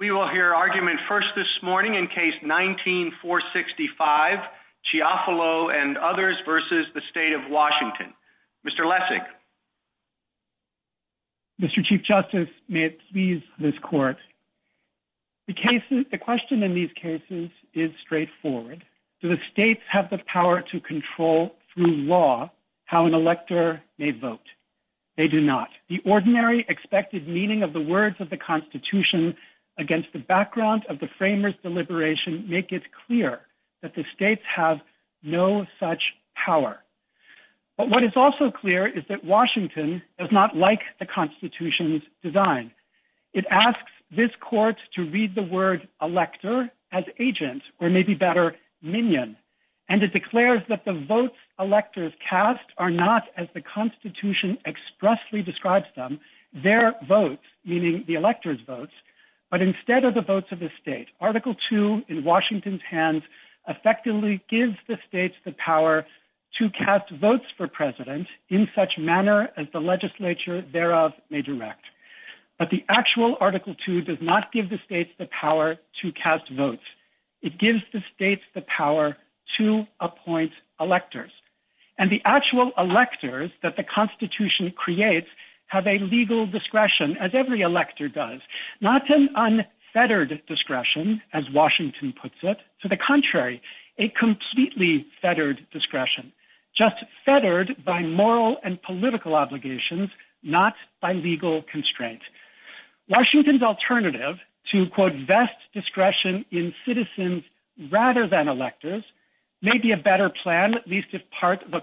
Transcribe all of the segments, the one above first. We will hear argument first this morning in case 19-465, Chiafalo v. Washington. Mr. Lessig. Mr. Chief Justice, may it please this Court, the question in these cases is straightforward. Do the states have the power to control, through law, how an elector may vote? They do not. The ordinary expected meaning of the words of the Constitution against the background of the framers' deliberation make it clear that the states have no such power. But what is also clear is that Washington does not like the Constitution's design. It asks this Court to read the word elector as agent, or maybe better, minion, and it declares that the votes electors cast are not, as the Constitution expressly describes them, their votes, meaning the electors' votes, but instead are the votes of the state. Article II in Washington's hands effectively gives the states the power to cast votes for president in such manner as the legislature thereof may direct. But the actual Article II does not give the states the power to cast votes. It gives the states the that the Constitution creates have a legal discretion, as every elector does. Not an unfettered discretion, as Washington puts it. To the contrary, a completely fettered discretion, just fettered by moral and political obligations, not by legal constraint. Washington's alternative to, quote, vest discretion in citizens rather than electors may be a better plan, at least if part of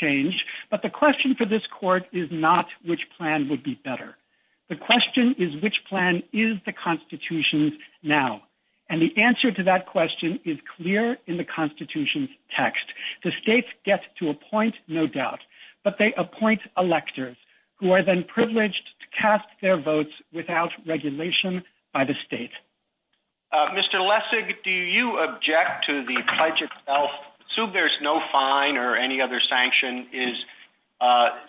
change, but the question for this Court is not which plan would be better. The question is, which plan is the Constitution now? And the answer to that question is clear in the Constitution's text. The states get to appoint, no doubt, but they appoint electors who are then privileged to cast their votes without regulation by the state. Mr. Lessig, do you object to the pledge itself? Assume there's no fine or any other sanction. Is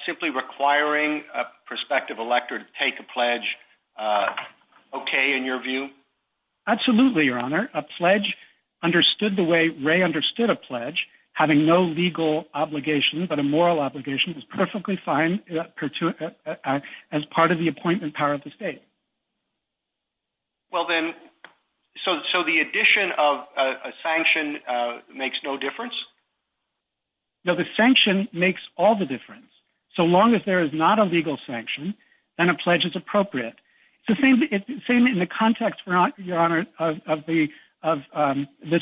simply requiring a prospective elector to take a pledge okay, in your view? Absolutely, Your Honor. A pledge understood the way Wray understood a pledge, having no legal obligation but a moral obligation, is perfectly fine as part of the appointment power of the state. Well then, so the addition of a sanction makes no difference? No, the sanction makes all the difference. So long as there is not a legal sanction, then a pledge is appropriate. So same in the context, Your Honor, of the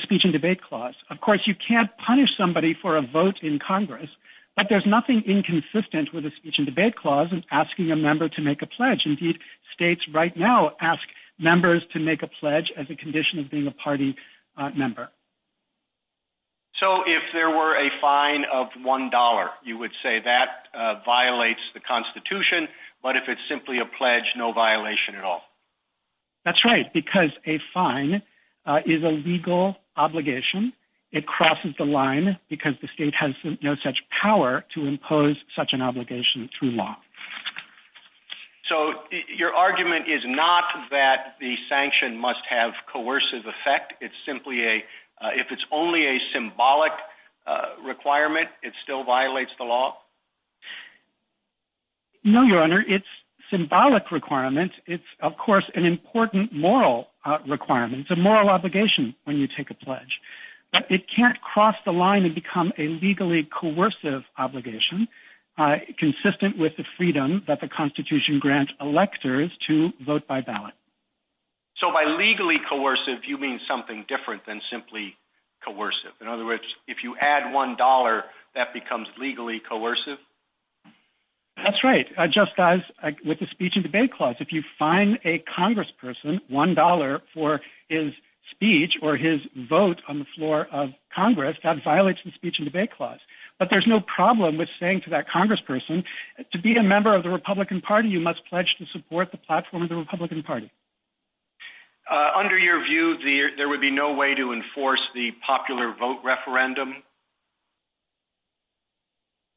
speech and debate clause. Of course, you can't punish somebody for a vote in Congress, but there's nothing inconsistent with a speech and debate clause in asking a member to make a pledge. Indeed, states right now ask members to make a pledge as a condition of being a party member. So if there were a fine of one dollar, you would say that violates the Constitution, but if it's simply a pledge, no violation at all? That's right, because a fine is a legal obligation. It crosses the line because the state has no such power to impose such an obligation. Your argument is not that the sanction must have coercive effect. It's simply a, if it's only a symbolic requirement, it still violates the law? No, Your Honor, it's symbolic requirement. It's, of course, an important moral requirement. It's a moral obligation when you take a pledge, but it can't cross the line and become a legally coercive obligation consistent with the freedom that the Constitution grants electors to vote by ballot. So by legally coercive, you mean something different than simply coercive? In other words, if you add one dollar, that becomes legally coercive? That's right, just as with the speech and debate clause. If you fine a congressperson one dollar for his speech or his vote on the floor of the house, that's fine, but there's no problem with saying to that congressperson, to be a member of the Republican Party, you must pledge to support the platform of the Republican Party. Under your view, there would be no way to enforce the popular vote referendum?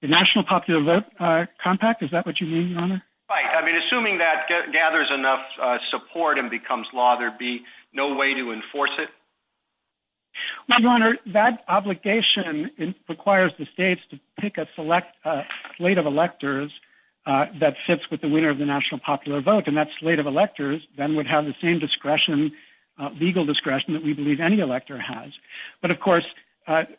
The National Popular Vote Compact? Is that what you mean, Your Honor? Right, I mean, assuming that gathers enough support and becomes law, there'd be no way to enforce it? Well, Your Honor, that obligation requires the states to pick a select slate of electors that sits with the winner of the National Popular Vote, and that slate of electors then would have the same discretion, legal discretion, that we believe any elector has. But of course,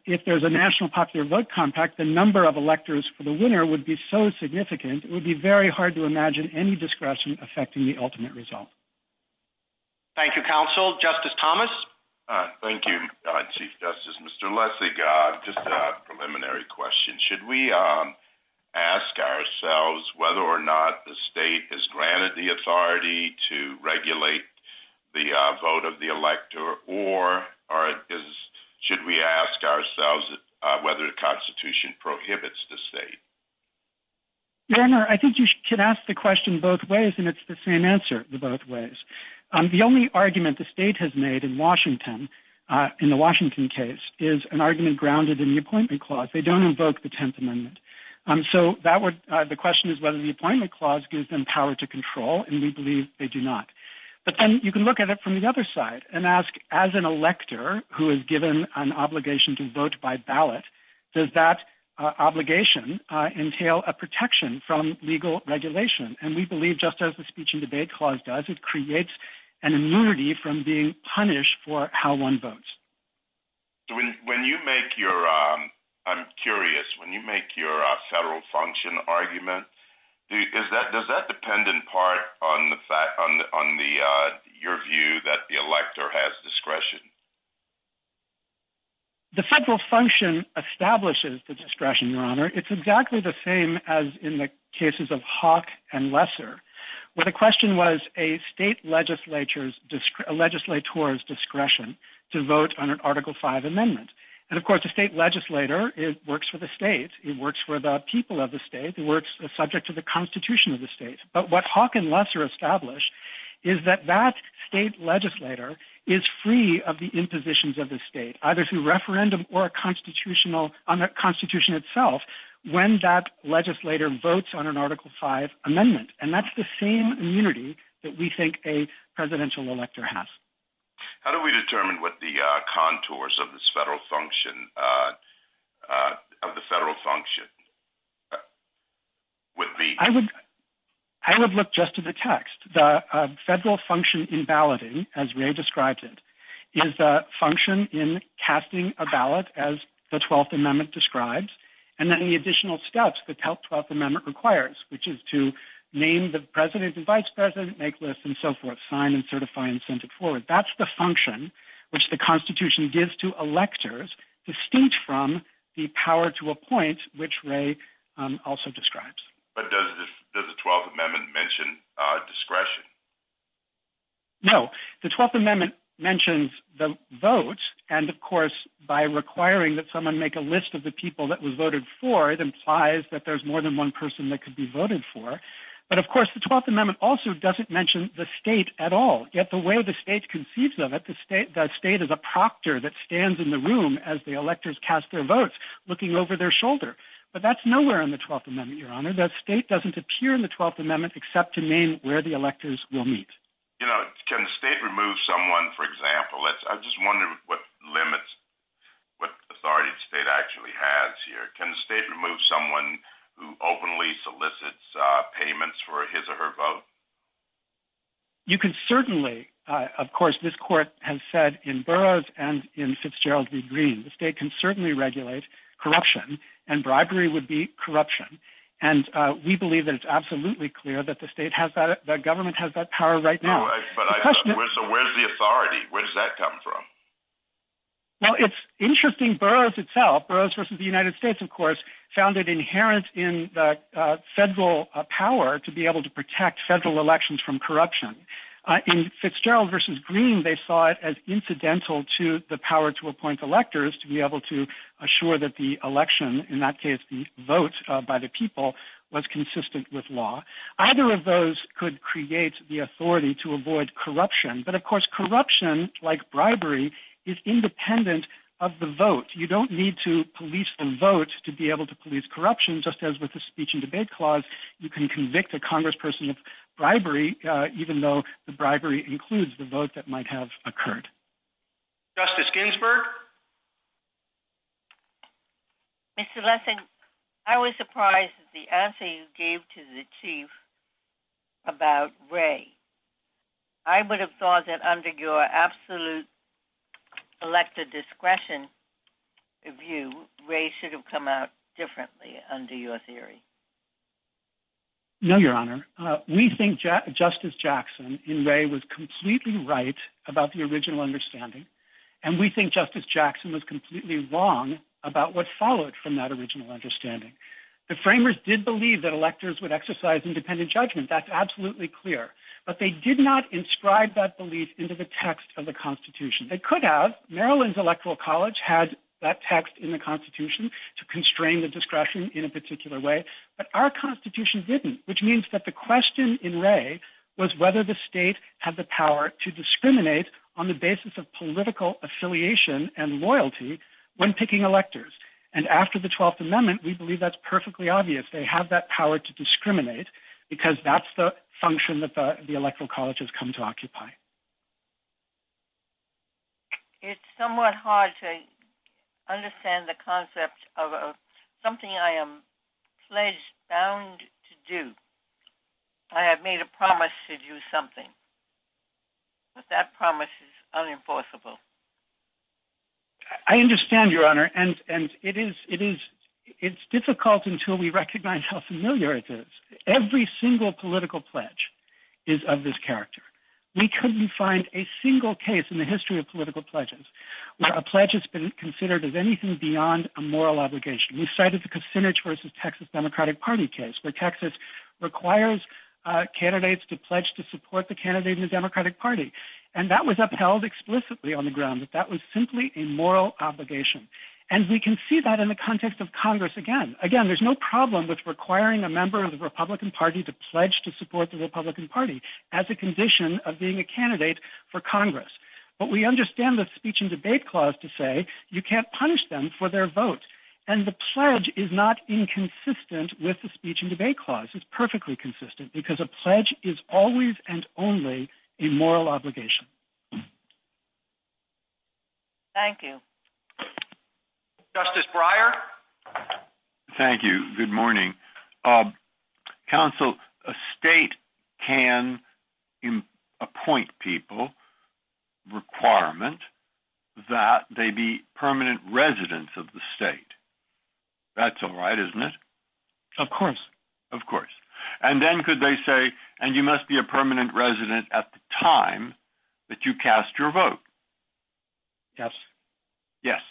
if there's a National Popular Vote Compact, the number of electors for the winner would be so significant, it would be very hard to imagine any discretion affecting the ultimate result. Thank you, counsel. Justice Thomas? Thank you, Chief Justice. Mr. Lessig, just a preliminary question. Should we ask ourselves whether or not the state is granted the authority to regulate the vote of the elector, or should we ask ourselves whether the Constitution prohibits the state? Your Honor, I think you should ask the question both ways, and it's the same answer, the both ways. The only argument the state has made in Washington, in the Washington case, is an argument grounded in the Appointment Clause. They don't invoke the Tenth Amendment. So the question is whether the Appointment Clause gives them power to control, and we believe they do not. But then you can look at it from the other side and ask, as an elector who is given an obligation to vote by ballot, does that obligation entail a protection from legal regulation? And we believe just as the Speech and Debate Clause does, it creates an immunity from being punished for how one votes. When you make your, I'm curious, when you make your federal function argument, does that dependent part on your view that the elector has discretion? The federal function establishes the discretion, Your Honor. It's exactly the same as in the cases of Hawk and Lesser, where the question was a state legislator's discretion to vote on an Article V amendment. And of course, the state legislator works for the state. It works for the people of the state. It works subject to the Constitution of the state. But what Hawk and Lesser establish is that that state legislator is free of the impositions of the state, either through referendum or a constitutional, on the Constitution itself, when that legislator votes on an Article V amendment. And that's the same immunity that we think a presidential elector has. How do we determine what the contours of this federal function, of the federal function? I would look just to the text. The federal function in balloting, as Ray described it, is a function in casting a ballot, as the 12th Amendment describes, and then the additional steps that help 12th Amendment requires, which is to name the president and vice president, make lists and so forth, sign and certify and send it forward. That's the function which the Constitution gives to electors, distinct from the power to appoint, which Ray also describes. But does the 12th Amendment mention discretion? No. The 12th Amendment mentions the vote. And of course, by requiring that someone make a list of the people that was voted for, it implies that there's more than one person that could be voted for. But of course, the 12th Amendment also doesn't mention the state at all. Yet the way the state conceives of it, the state is a proctor that stands in the room as the electors cast their votes, looking over their shoulder. But that's nowhere in the 12th Amendment, Your Honor. The state doesn't appear in the 12th Amendment except to name where the electors will meet. You know, can the state remove someone, for example? I just wonder what limits, what authority the state actually has here. Can the state remove someone who openly solicits payments for his or her vote? You can certainly, of course, this Court has said in Burroughs and in Fitzgerald v. Green, the state can certainly regulate corruption and bribery would be corruption. And we believe that it's absolutely clear that the state has that, the government has that power right now. But where's the authority? Where does that come from? Well, it's interesting, Burroughs itself, Burroughs versus the United States, of course, found it inherent in the federal power to be able to protect federal elections from corruption. In Fitzgerald v. Green, they saw it as incidental to the power to appoint electors to be able to assure that the election, in that case, the vote by the people was consistent with law. Either of those could create the authority to avoid corruption. But of course, corruption, like bribery, is independent of the vote. You don't need to police the vote to be able to police corruption, just as with the speech and debate clause, you can convict a congressperson of bribery, even though the bribery includes the vote that might have occurred. Justice Ginsburg? Mr. Lessing, I was surprised at the answer you gave to the Chief about Wray. I would have thought that under your absolute elected discretion view, Wray should have come out differently under your theory. No, Your Honor. We think Justice Jackson in Wray was completely right about the original understanding. And we think Justice Jackson was completely wrong about what followed from that judgment. That's absolutely clear. But they did not inscribe that belief into the text of the Constitution. They could have. Maryland's Electoral College had that text in the Constitution to constrain the discretion in a particular way. But our Constitution didn't, which means that the question in Wray was whether the state had the power to discriminate on the basis of political affiliation and loyalty when picking electors. And after the 12th Amendment, we believe that's that's the function that the Electoral College has come to occupy. It's somewhat hard to understand the concept of something I am pledged bound to do. I have made a promise to do something, but that promise is unenforceable. I understand, Your Honor. And it is difficult until we recognize how familiar it is. Every single political pledge is of this character. We couldn't find a single case in the history of political pledges where a pledge has been considered as anything beyond a moral obligation. We cited the Kucinich versus Texas Democratic Party case where Texas requires candidates to pledge to support the candidate in the Democratic Party. And that was upheld explicitly on the ground that that was simply a moral obligation. And we can see that in the context of Congress again. Again, there's no problem with requiring a member of the Republican Party to pledge to support the Republican Party as a condition of being a candidate for Congress. But we understand the speech and debate clause to say you can't punish them for their vote. And the pledge is not inconsistent with the speech and debate clause. It's perfectly consistent because a pledge is always and only a moral obligation. Thank you. Justice Breyer. Thank you. Good morning. Counsel, a state can appoint people requirement that they be permanent residents of the state. That's all right, isn't it? Of course. Of course. And then could they say, and you must be a permanent resident at the time that you cast your vote? Yes. Yes.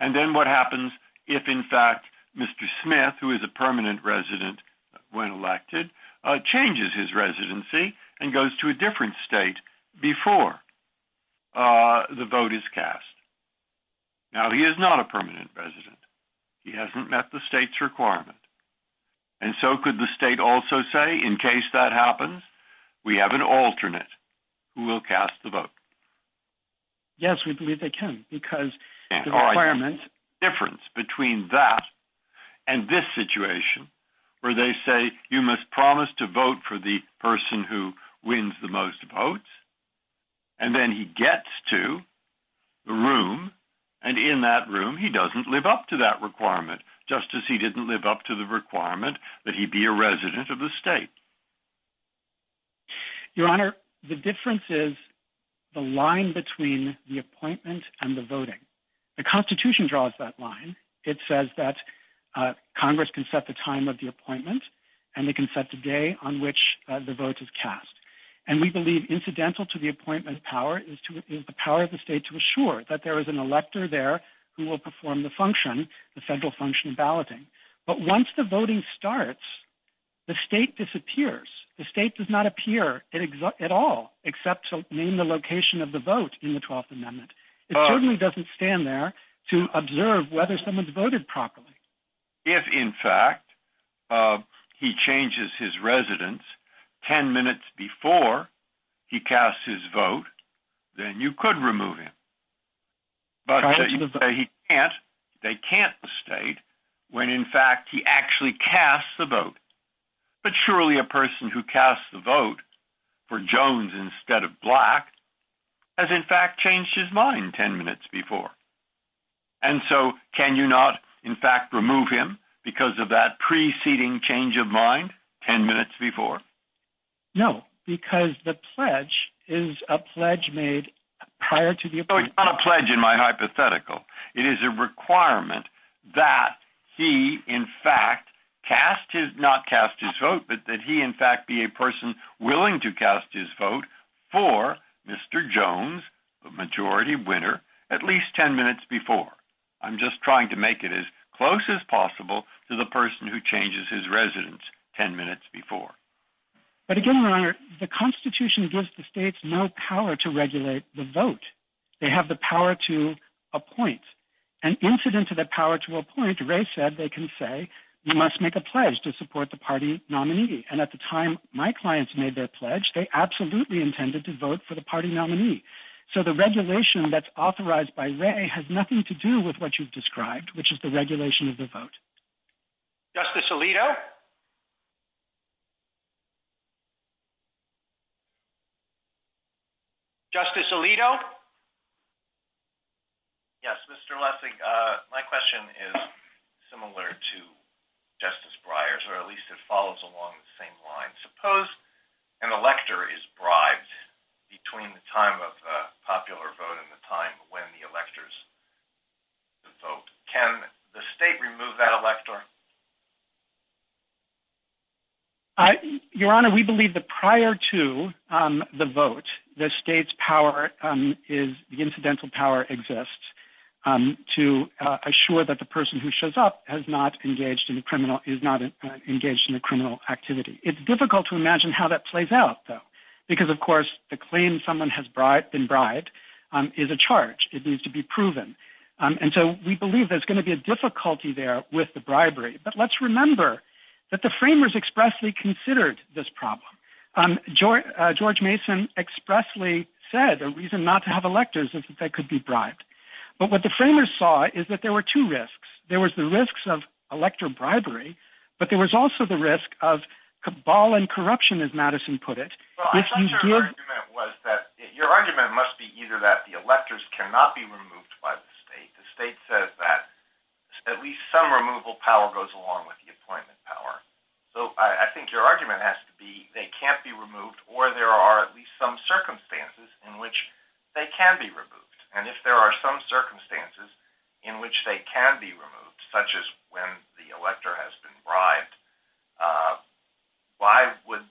And then what happens if, in fact, Mr. Smith, who is a permanent resident when elected, changes his residency and goes to a different state before the vote is cast? Now, he is not a permanent resident. He hasn't met the state's requirement. And so could the state also say, in case that happens, we have an alternate who will cast the vote? Yes, we believe they can, because the requirement. Difference between that and this situation, where they say you must promise to vote for the person who wins the most votes. And then he gets to the room and in that room, he doesn't live up to that requirement, just as he didn't live up to the requirement that he be a resident of the state. Your Honor, the difference is the line between the appointment and the voting. The Constitution draws that line. It says that Congress can set the time of the appointment and they can set the day on which the vote is cast. And we believe incidental to the appointment power is the power of the state to assure that there is an elector there who will perform the function, the federal function of balloting. But once the voting starts, the state disappears. The state does not appear at all except to name the location of the vote in the 12th Amendment. It certainly doesn't stand there to observe whether someone's voted properly. If, in fact, he changes his residence 10 minutes before he casts his vote, then you could remove him. But you say he can't. They can't state when, in fact, he actually casts the vote. But surely a person who casts the vote for Jones instead of Black has, in fact, changed his mind 10 minutes before. And so can you not, in fact, remove him because of that preceding change of mind 10 minutes before? No, because the pledge is a pledge made prior to the appointment. It's not a pledge in my hypothetical. It is a requirement that he, in fact, cast his not cast his vote, but that he, in fact, be a person willing to cast his vote for Mr. Jones, the majority winner, at least 10 minutes before. I'm just trying to make it as close as possible to the person who changes his residence 10 minutes before. But again, Your Honor, the Constitution gives the states no power to regulate the vote. They have the power to appoint. And incident to that power to appoint, Ray said they can say you must make a pledge to support the party nominee. And at the time my clients made their pledge, they absolutely intended to vote for the party nominee. So the regulation that's authorized by Ray has nothing to do with what you've described, which is the regulation of the vote. Justice Alito? Justice Alito? Yes, Mr. Lessig, my question is similar to Justice Breyer's, or at least it follows along the same line. Suppose an elector is bribed between the time of popular vote and the time when the electors vote. Can the state remove that elector? Your Honor, we believe that prior to the vote, the state's power is, the incidental power exists to assure that the person who shows up has not engaged in the criminal, is not engaged in the criminal activity. It's difficult to imagine how that plays out, though, because of course the claim someone has been bribed is a charge. It needs to be proven. And so we believe there's going to be a difficulty there with the bribery. But let's remember that the framers expressly considered this problem. George Mason expressly said the reason not to have electors is that they could be bribed. But what the framers saw is that there were two risks. There was the risks of elector bribery, but there was also the risk of cabal corruption, as Madison put it. Your argument must be either that the electors cannot be removed by the state. The state says that at least some removal power goes along with the appointment power. So I think your argument has to be they can't be removed or there are at least some circumstances in which they can be removed. And if there are some circumstances in which they can be removed, such as when the elector has been bribed, why would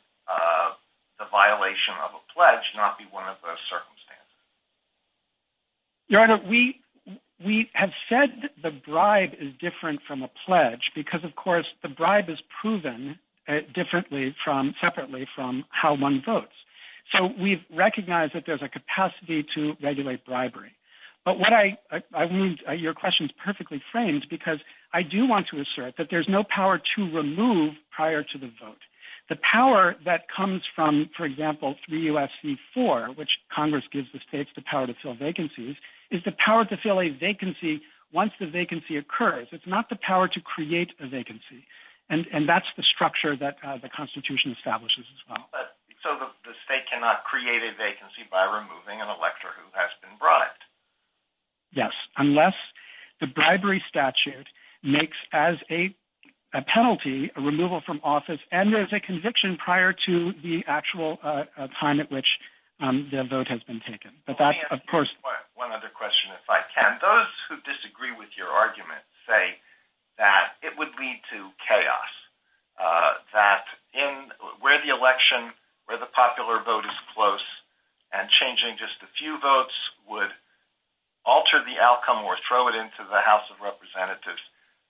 the violation of a pledge not be one of those circumstances? Your Honor, we have said that the bribe is different from a pledge because of course the bribe is proven differently from, separately from how one votes. So we recognize that there's capacity to regulate bribery. But your question is perfectly framed because I do want to assert that there's no power to remove prior to the vote. The power that comes from, for example, 3 U.S.C. 4, which Congress gives the states the power to fill vacancies, is the power to fill a vacancy once the vacancy occurs. It's not the power to create a vacancy. And that's the structure that the Constitution establishes as well. So the state cannot create a vacancy by removing an elector who has been bribed? Yes, unless the bribery statute makes as a penalty a removal from office and there's a conviction prior to the actual time at which the vote has been taken. One other question if I can. Those who disagree with your argument say that it would lead to that in where the election, where the popular vote is close and changing just a few votes would alter the outcome or throw it into the House of Representatives.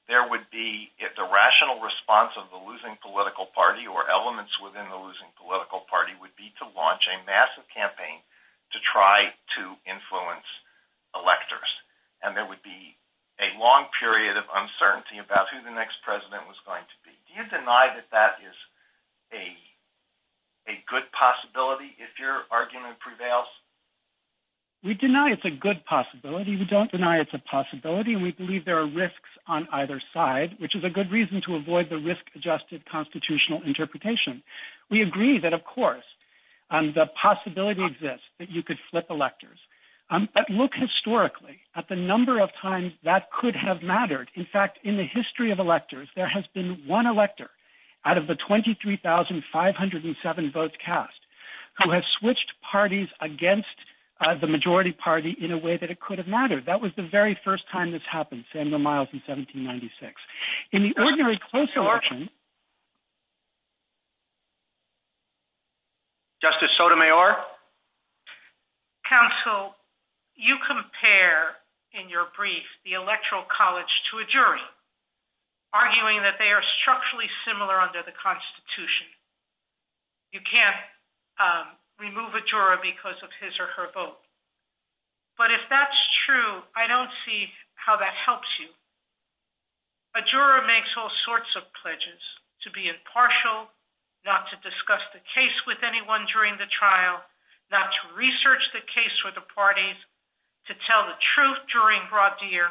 There would be, if the rational response of the losing political party or elements within the losing political party would be to launch a massive campaign to try to influence electors. And there would be a long period of a good possibility if your argument prevails? We deny it's a good possibility. We don't deny it's a possibility. We believe there are risks on either side, which is a good reason to avoid the risk adjusted constitutional interpretation. We agree that, of course, the possibility exists that you could flip electors. But look historically at the number of times that could have mattered. In fact, in the history of electors, there has been one elector out of the 23,507 votes cast who has switched parties against the majority party in a way that it could have mattered. That was the very first time this happened, Samuel Miles in 1796. In the ordinary close election. Justice Sotomayor. Counsel, you compare in your brief the electoral college to a jury arguing that they are structurally similar under the Constitution. You can't remove a juror because of his or her vote. But if that's true, I don't see how that could be true. The jurors are supposed to be impartial, not to discuss the case with anyone during the trial, not to research the case with the parties, to tell the truth during broad deer.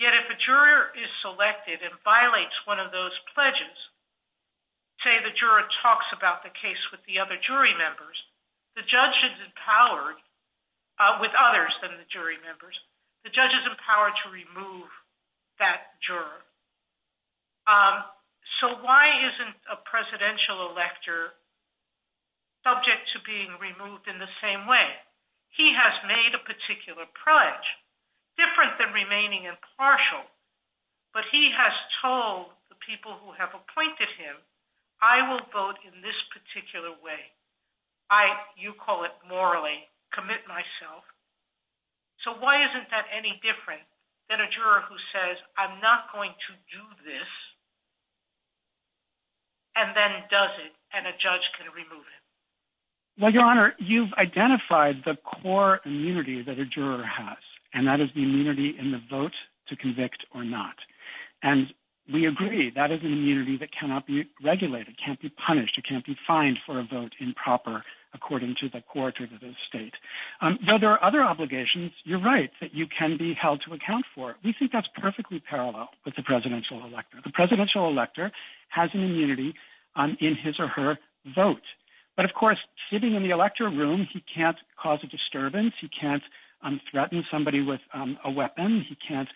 Yet if a juror is selected and violates one of those pledges, say the juror talks about the case with the other jury members, the judge is empowered with others than the jury members. The judge is empowered to remove that juror. So why isn't a presidential elector subject to being removed in the same way? He has made a particular pledge, different than remaining impartial, but he has told the people who have appointed him, I will vote in this particular way. You call it morally, commit myself. So why isn't that any different than a juror who says I'm not going to vote this, and then does it, and a judge can remove it? Well, Your Honor, you've identified the core immunity that a juror has, and that is the immunity in the vote to convict or not. And we agree that is an immunity that cannot be regulated, can't be punished, it can't be fined for a vote improper, according to the court or the state. Though there are other obligations, you're right, that you can be held to account for. We think that's perfectly parallel with the presidential elector. The presidential elector has an immunity in his or her vote. But of course, sitting in the elector room, he can't cause a disturbance, he can't threaten somebody with a weapon, he can't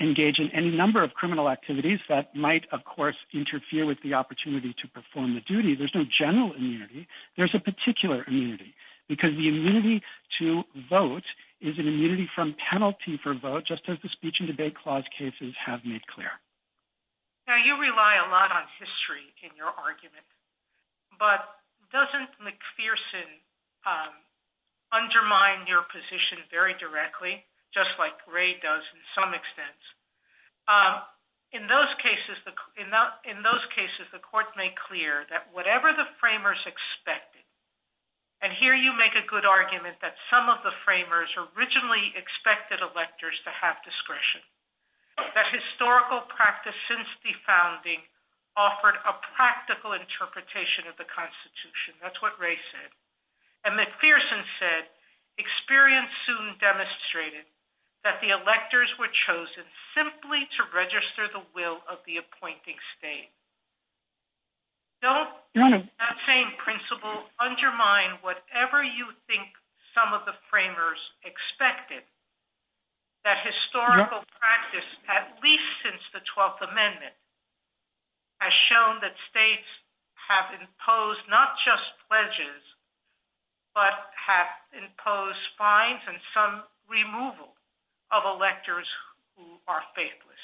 engage in any number of criminal activities that might, of course, interfere with the opportunity to perform the duty. There's no general immunity. There's a particular immunity, because the immunity to vote is an immunity from penalty for vote, just as the Speech and Debate Clause cases have made clear. Now, you rely a lot on history in your argument. But doesn't McPherson undermine your position very directly, just like Gray does in some extent? In those cases, the court made clear that whatever the framers expected, and here you make a good argument that some of the framers originally expected electors to have discretion, that historical practice since the founding offered a practical interpretation of the Constitution. That's what Gray said. And McPherson said, experience soon demonstrated that the electors were chosen simply to register the will of the appointing state. Don't that same principle undermine whatever you think some of the framers expected. That historical practice, at least since the 12th Amendment, has shown that states have imposed not just pledges, but have imposed fines and some are faithless.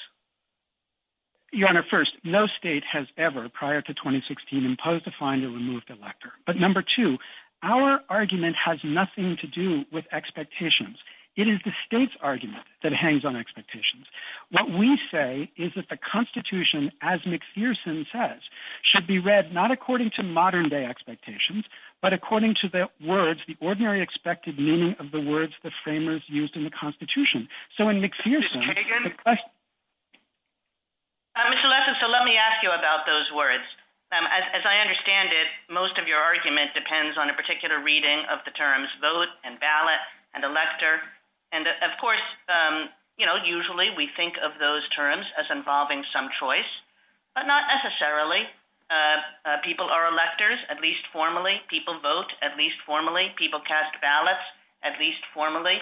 Your Honor, first, no state has ever, prior to 2016, imposed a fine to remove the elector. But number two, our argument has nothing to do with expectations. It is the state's argument that hangs on expectations. What we say is that the Constitution, as McPherson says, should be read not according to modern-day expectations, but according to the words, the ordinary expected meaning of the words the framers used in the Constitution. So in McPherson, questions? Mr. Lessin, so let me ask you about those words. As I understand it, most of your argument depends on a particular reading of the terms vote and ballot and elector. And of course, you know, usually we think of those terms as involving some choice, but not necessarily. People are electors, at least formally. People vote, at least formally. People cast ballots, at least formally,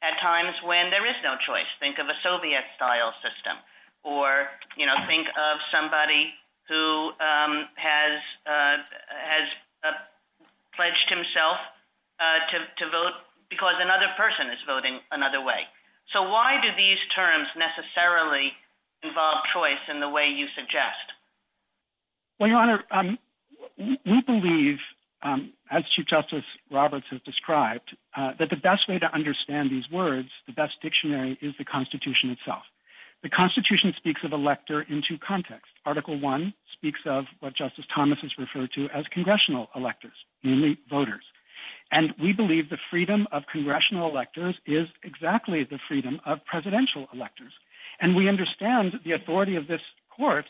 at times when there is no choice. Think of a Soviet-style system, or, you know, think of somebody who has pledged himself to vote because another person is voting another way. So why do these terms necessarily involve choice in the way you suggest? Well, Your Honor, we believe, as Chief Justice Roberts has described, that the best way to understand these words, the best dictionary, is the Constitution itself. The Constitution speaks of elector in two contexts. Article I speaks of what Justice Thomas has referred to as congressional electors, namely voters. And we believe the freedom of congressional electors is exactly the freedom of presidential electors. And we understand the authority of this Court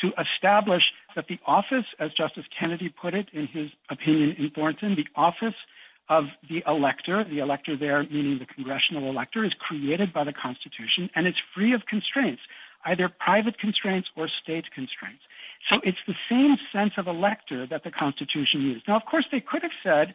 to establish that the office, as Justice Kennedy put it in his opinion in Thornton, the office of the elector, the elector there meaning the congressional elector, is created by the Constitution, and it's free of constraints, either private constraints or state constraints. So it's the same sense of elector that the Constitution is. Now, of course, they could have said,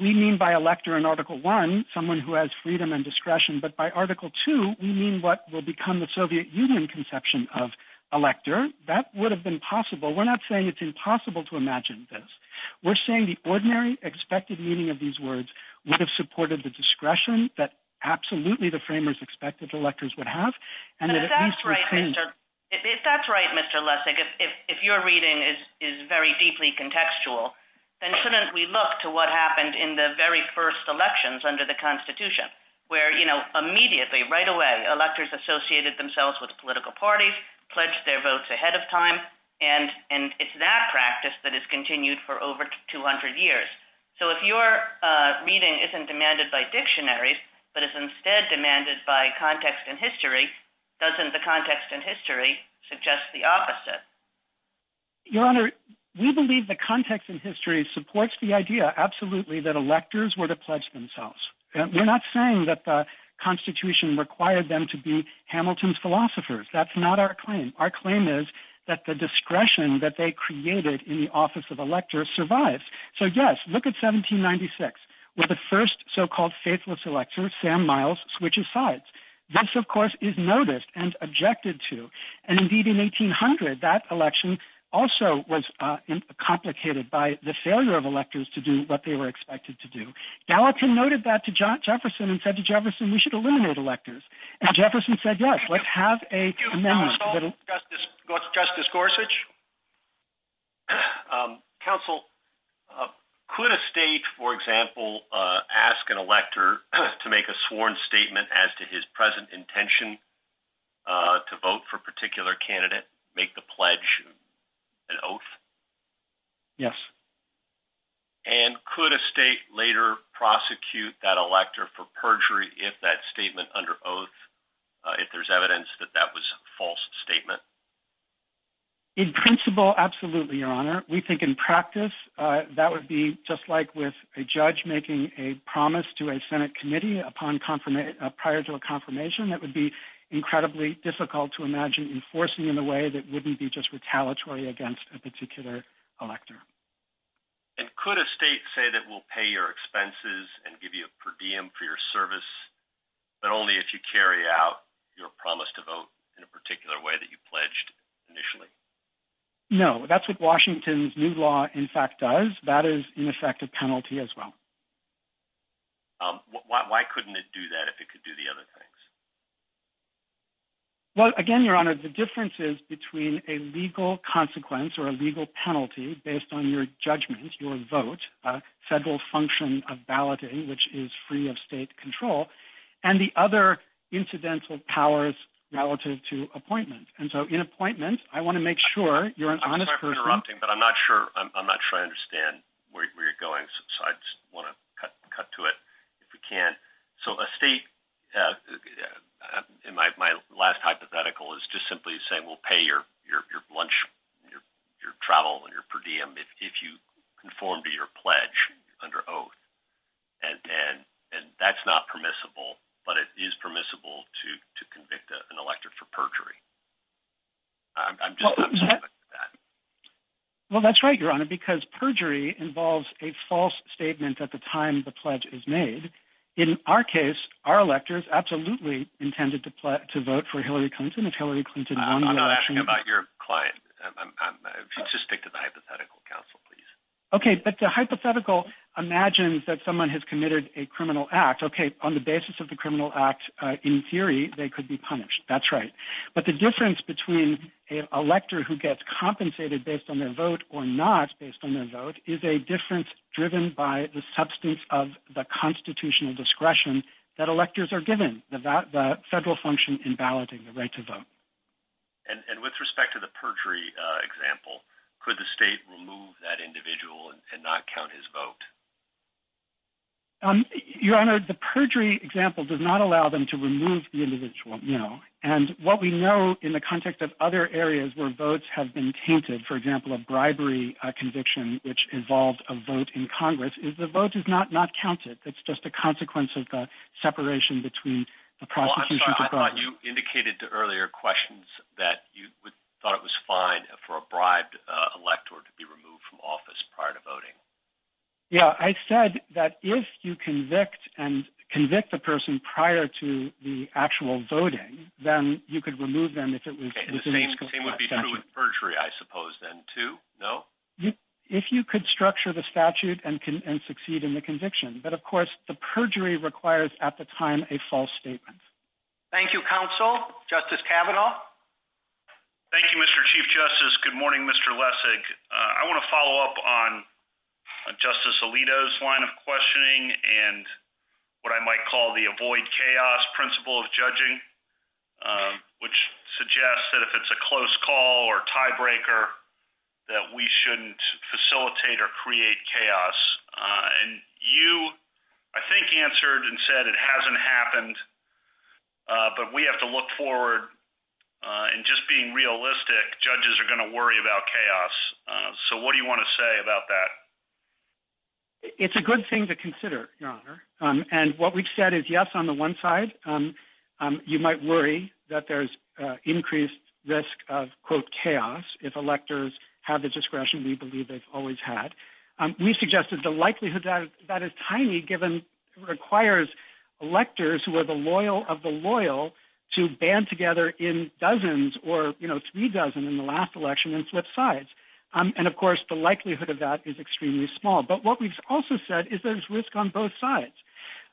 we mean by elector in Article I, someone who has freedom and discretion, but by Article II, we mean what will become the Soviet Union conception of elector. That would have been possible. We're not saying it's impossible to imagine this. We're saying the ordinary expected meaning of these words would have supported the discretion that absolutely the framers expected electors would have. And if that's right, Mr. Lessig, if your reading is very deeply contextual, then shouldn't we look to what happened in the first elections under the Constitution, where immediately, right away, electors associated themselves with political parties, pledged their votes ahead of time, and it's that practice that has continued for over 200 years? So if your reading isn't demanded by dictionaries, but is instead demanded by context and history, doesn't the context and history suggest the opposite? Your Honor, we believe the context and history supports the idea absolutely that electors were to pledge themselves. We're not saying that the Constitution required them to be Hamilton's philosophers. That's not our claim. Our claim is that the discretion that they created in the office of elector survives. So yes, look at 1796, where the first so-called faithless elector, Sam Miles, switches sides. This, of course, is noticed and objected to. And indeed in 1800, that election also was complicated by the failure of electors to do what they were expected to do. Gallatin noted that to Jefferson and said to Jefferson, we should eliminate electors. And Jefferson said, yes, let's have a amendment. Justice Gorsuch? Counsel, could a state, for example, ask an elector to make a sworn statement as to his present intention to vote for a particular candidate, make the pledge an oath? Yes. And could a state later prosecute that elector for perjury if that statement under oath, if there's evidence that that was a false statement? In principle, absolutely, Your Honor. We think in practice that would be just like with a judge making a promise to a Senate committee prior to a confirmation. That would be incredibly difficult to imagine enforcing in a way that wouldn't be just retaliatory against a particular elector. And could a state say that we'll pay your expenses and give you a per diem for your service, but only if you carry out your promise to vote in a particular way that you pledged initially? No, that's what Washington's new law, in fact, does. That is, in effect, a penalty as well. Why couldn't it do that if it could do the other things? Well, again, Your Honor, the difference is between a legal consequence or a legal penalty based on your judgment, your vote, a federal function of balloting, which is free of state control, and the other incidental powers relative to appointment. And so in appointment, I want to make sure you're an honest person. I'm sorry for interrupting, but I'm not sure I understand where you're going, so I just want to cut to it if we can. So a state, in my last hypothetical, is just simply saying, we'll pay your lunch, your travel, and your per diem if you conform to your pledge under oath. And that's not permissible, but it is permissible to convict an elector for perjury. I'm just, I'm sorry about that. Well, that's right, Your Honor, because perjury involves a false statement at the time the pledge is made. In our case, our electors absolutely intended to vote for Hillary Clinton. If Hillary Clinton won the election- I'm not asking about your client. Just stick to the hypothetical, counsel, please. Okay, but the hypothetical imagines that someone has committed a criminal act. Okay, on the basis of the criminal act, in theory, they could be punished. That's right. But the difference between an elector who gets compensated based on their vote or not based on their vote is a difference driven by the substance of the constitutional discretion that electors are given, the federal function in balloting, the right to vote. And with respect to the perjury example, could the state remove that individual and not count his vote? Your Honor, the perjury example does not allow them to remove the individual, no. And what we know in the context of other areas where votes have been tainted, for example, a bribery conviction, which involved a vote in Congress, is the vote is not not counted. It's just a consequence of the separation between the prosecution- Well, I'm sorry. I thought you indicated to earlier questions that you thought it was fine for a bribed elector to be removed from office prior to voting. Yeah, I said that if you convict and convict the person prior to the actual voting, then you could remove them if it was- Okay, the same would be true with perjury, I suppose, then, too? No? If you could structure the statute and succeed in the conviction. But of course, the perjury requires at the time a false statement. Thank you, counsel. Justice Kavanaugh? Thank you, Mr. Chief Justice. Good morning, Mr. Lessig. I want to follow up on Justice Alito's line of questioning and what I might call the avoid chaos principle of judging, which suggests that if it's a close call or tiebreaker, that we shouldn't facilitate or create chaos. And you, I think, answered and said it hasn't happened, but we have to look forward and just being realistic, judges are going to worry about chaos. So what do you want to say about that? It's a good thing to consider, Your Honor. And what we've said is, yes, on the one side, you might worry that there's increased risk of, quote, chaos if electors have the discretion we believe they've always had. We suggested the likelihood that is tiny, given it requires electors who are the loyal of the loyal to band together in dozens or three dozen in the last election and flip sides. And of course, the likelihood of that is extremely small. But what we've also said is there's risk on both sides.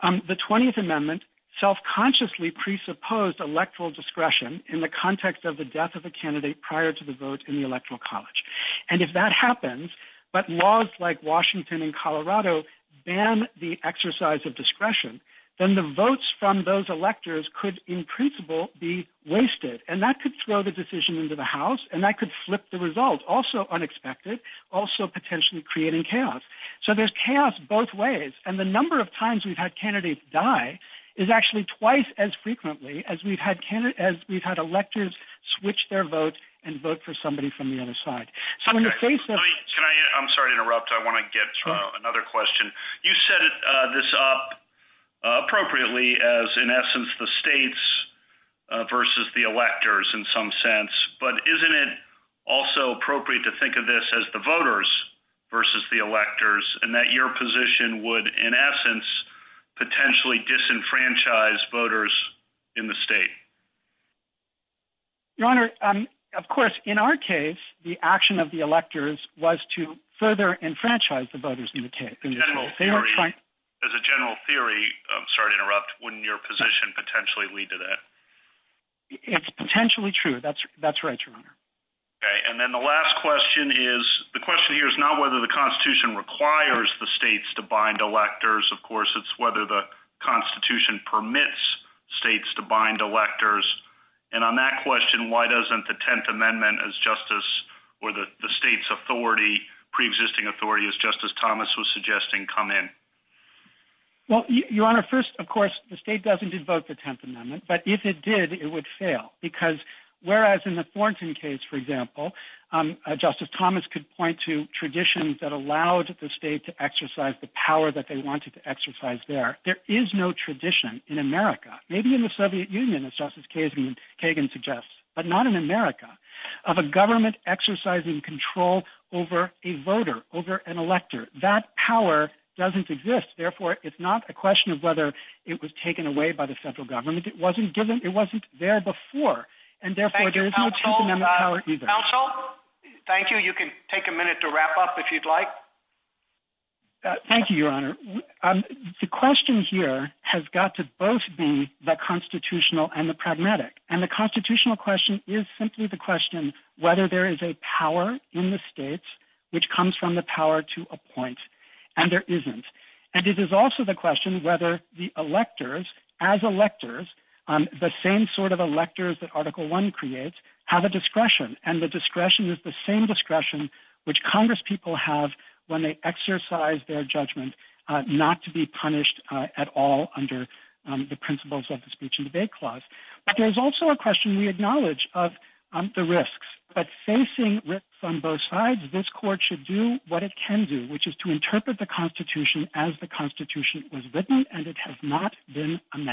The 20th Amendment self-consciously presupposed electoral discretion in the context of the death of a candidate prior to the vote in the Electoral College. And if that happens, but laws like Washington and Colorado ban the exercise of discretion, then the votes from those electors could, in principle, be wasted. And that could throw the decision into the House, and that could flip the result, also unexpected, also potentially creating chaos. So there's chaos both ways. And the number of times we've had candidates die is actually twice as frequently as we've had electors switch their vote and vote for somebody from the other side. I'm sorry to interrupt. I want to get another question. You set this up as, in essence, the states versus the electors in some sense. But isn't it also appropriate to think of this as the voters versus the electors, and that your position would, in essence, potentially disenfranchise voters in the state? Your Honor, of course, in our case, the action of the electors was to further enfranchise the voters in the state. As a general theory, I'm sorry to interrupt, wouldn't your position potentially lead to that? It's potentially true. That's right, Your Honor. Okay. And then the last question is, the question here is not whether the Constitution requires the states to bind electors. Of course, it's whether the Constitution permits states to bind electors. And on that question, why doesn't the Tenth Amendment come in? Well, Your Honor, first, of course, the state doesn't invoke the Tenth Amendment. But if it did, it would fail. Because whereas in the Thornton case, for example, Justice Thomas could point to traditions that allowed the state to exercise the power that they wanted to exercise there. There is no tradition in America, maybe in the Soviet Union, as Justice Kagan suggests, but not in America, of a government exercising control over a voter, over an elector. That power doesn't exist. Therefore, it's not a question of whether it was taken away by the federal government. It wasn't given, it wasn't there before. And therefore, there is no Tenth Amendment power either. Counsel, thank you. You can take a minute to wrap up if you'd like. Thank you, Your Honor. The question here has got to both be the constitutional and the pragmatic. And the constitutional question is simply the question whether there is a power in the states which comes from the power to appoint, and there isn't. And it is also the question whether the electors, as electors, the same sort of electors that Article I creates, have a discretion. And the discretion is the same discretion which Congress people have when they exercise their judgment not to be punished at all under the principles of the Speech and Debate Clause. But there's also a question we acknowledge of the risks. But facing risks on both sides, this Court should do what it can do, which is to interpret the Constitution as the Constitution was written, and it has not been amended.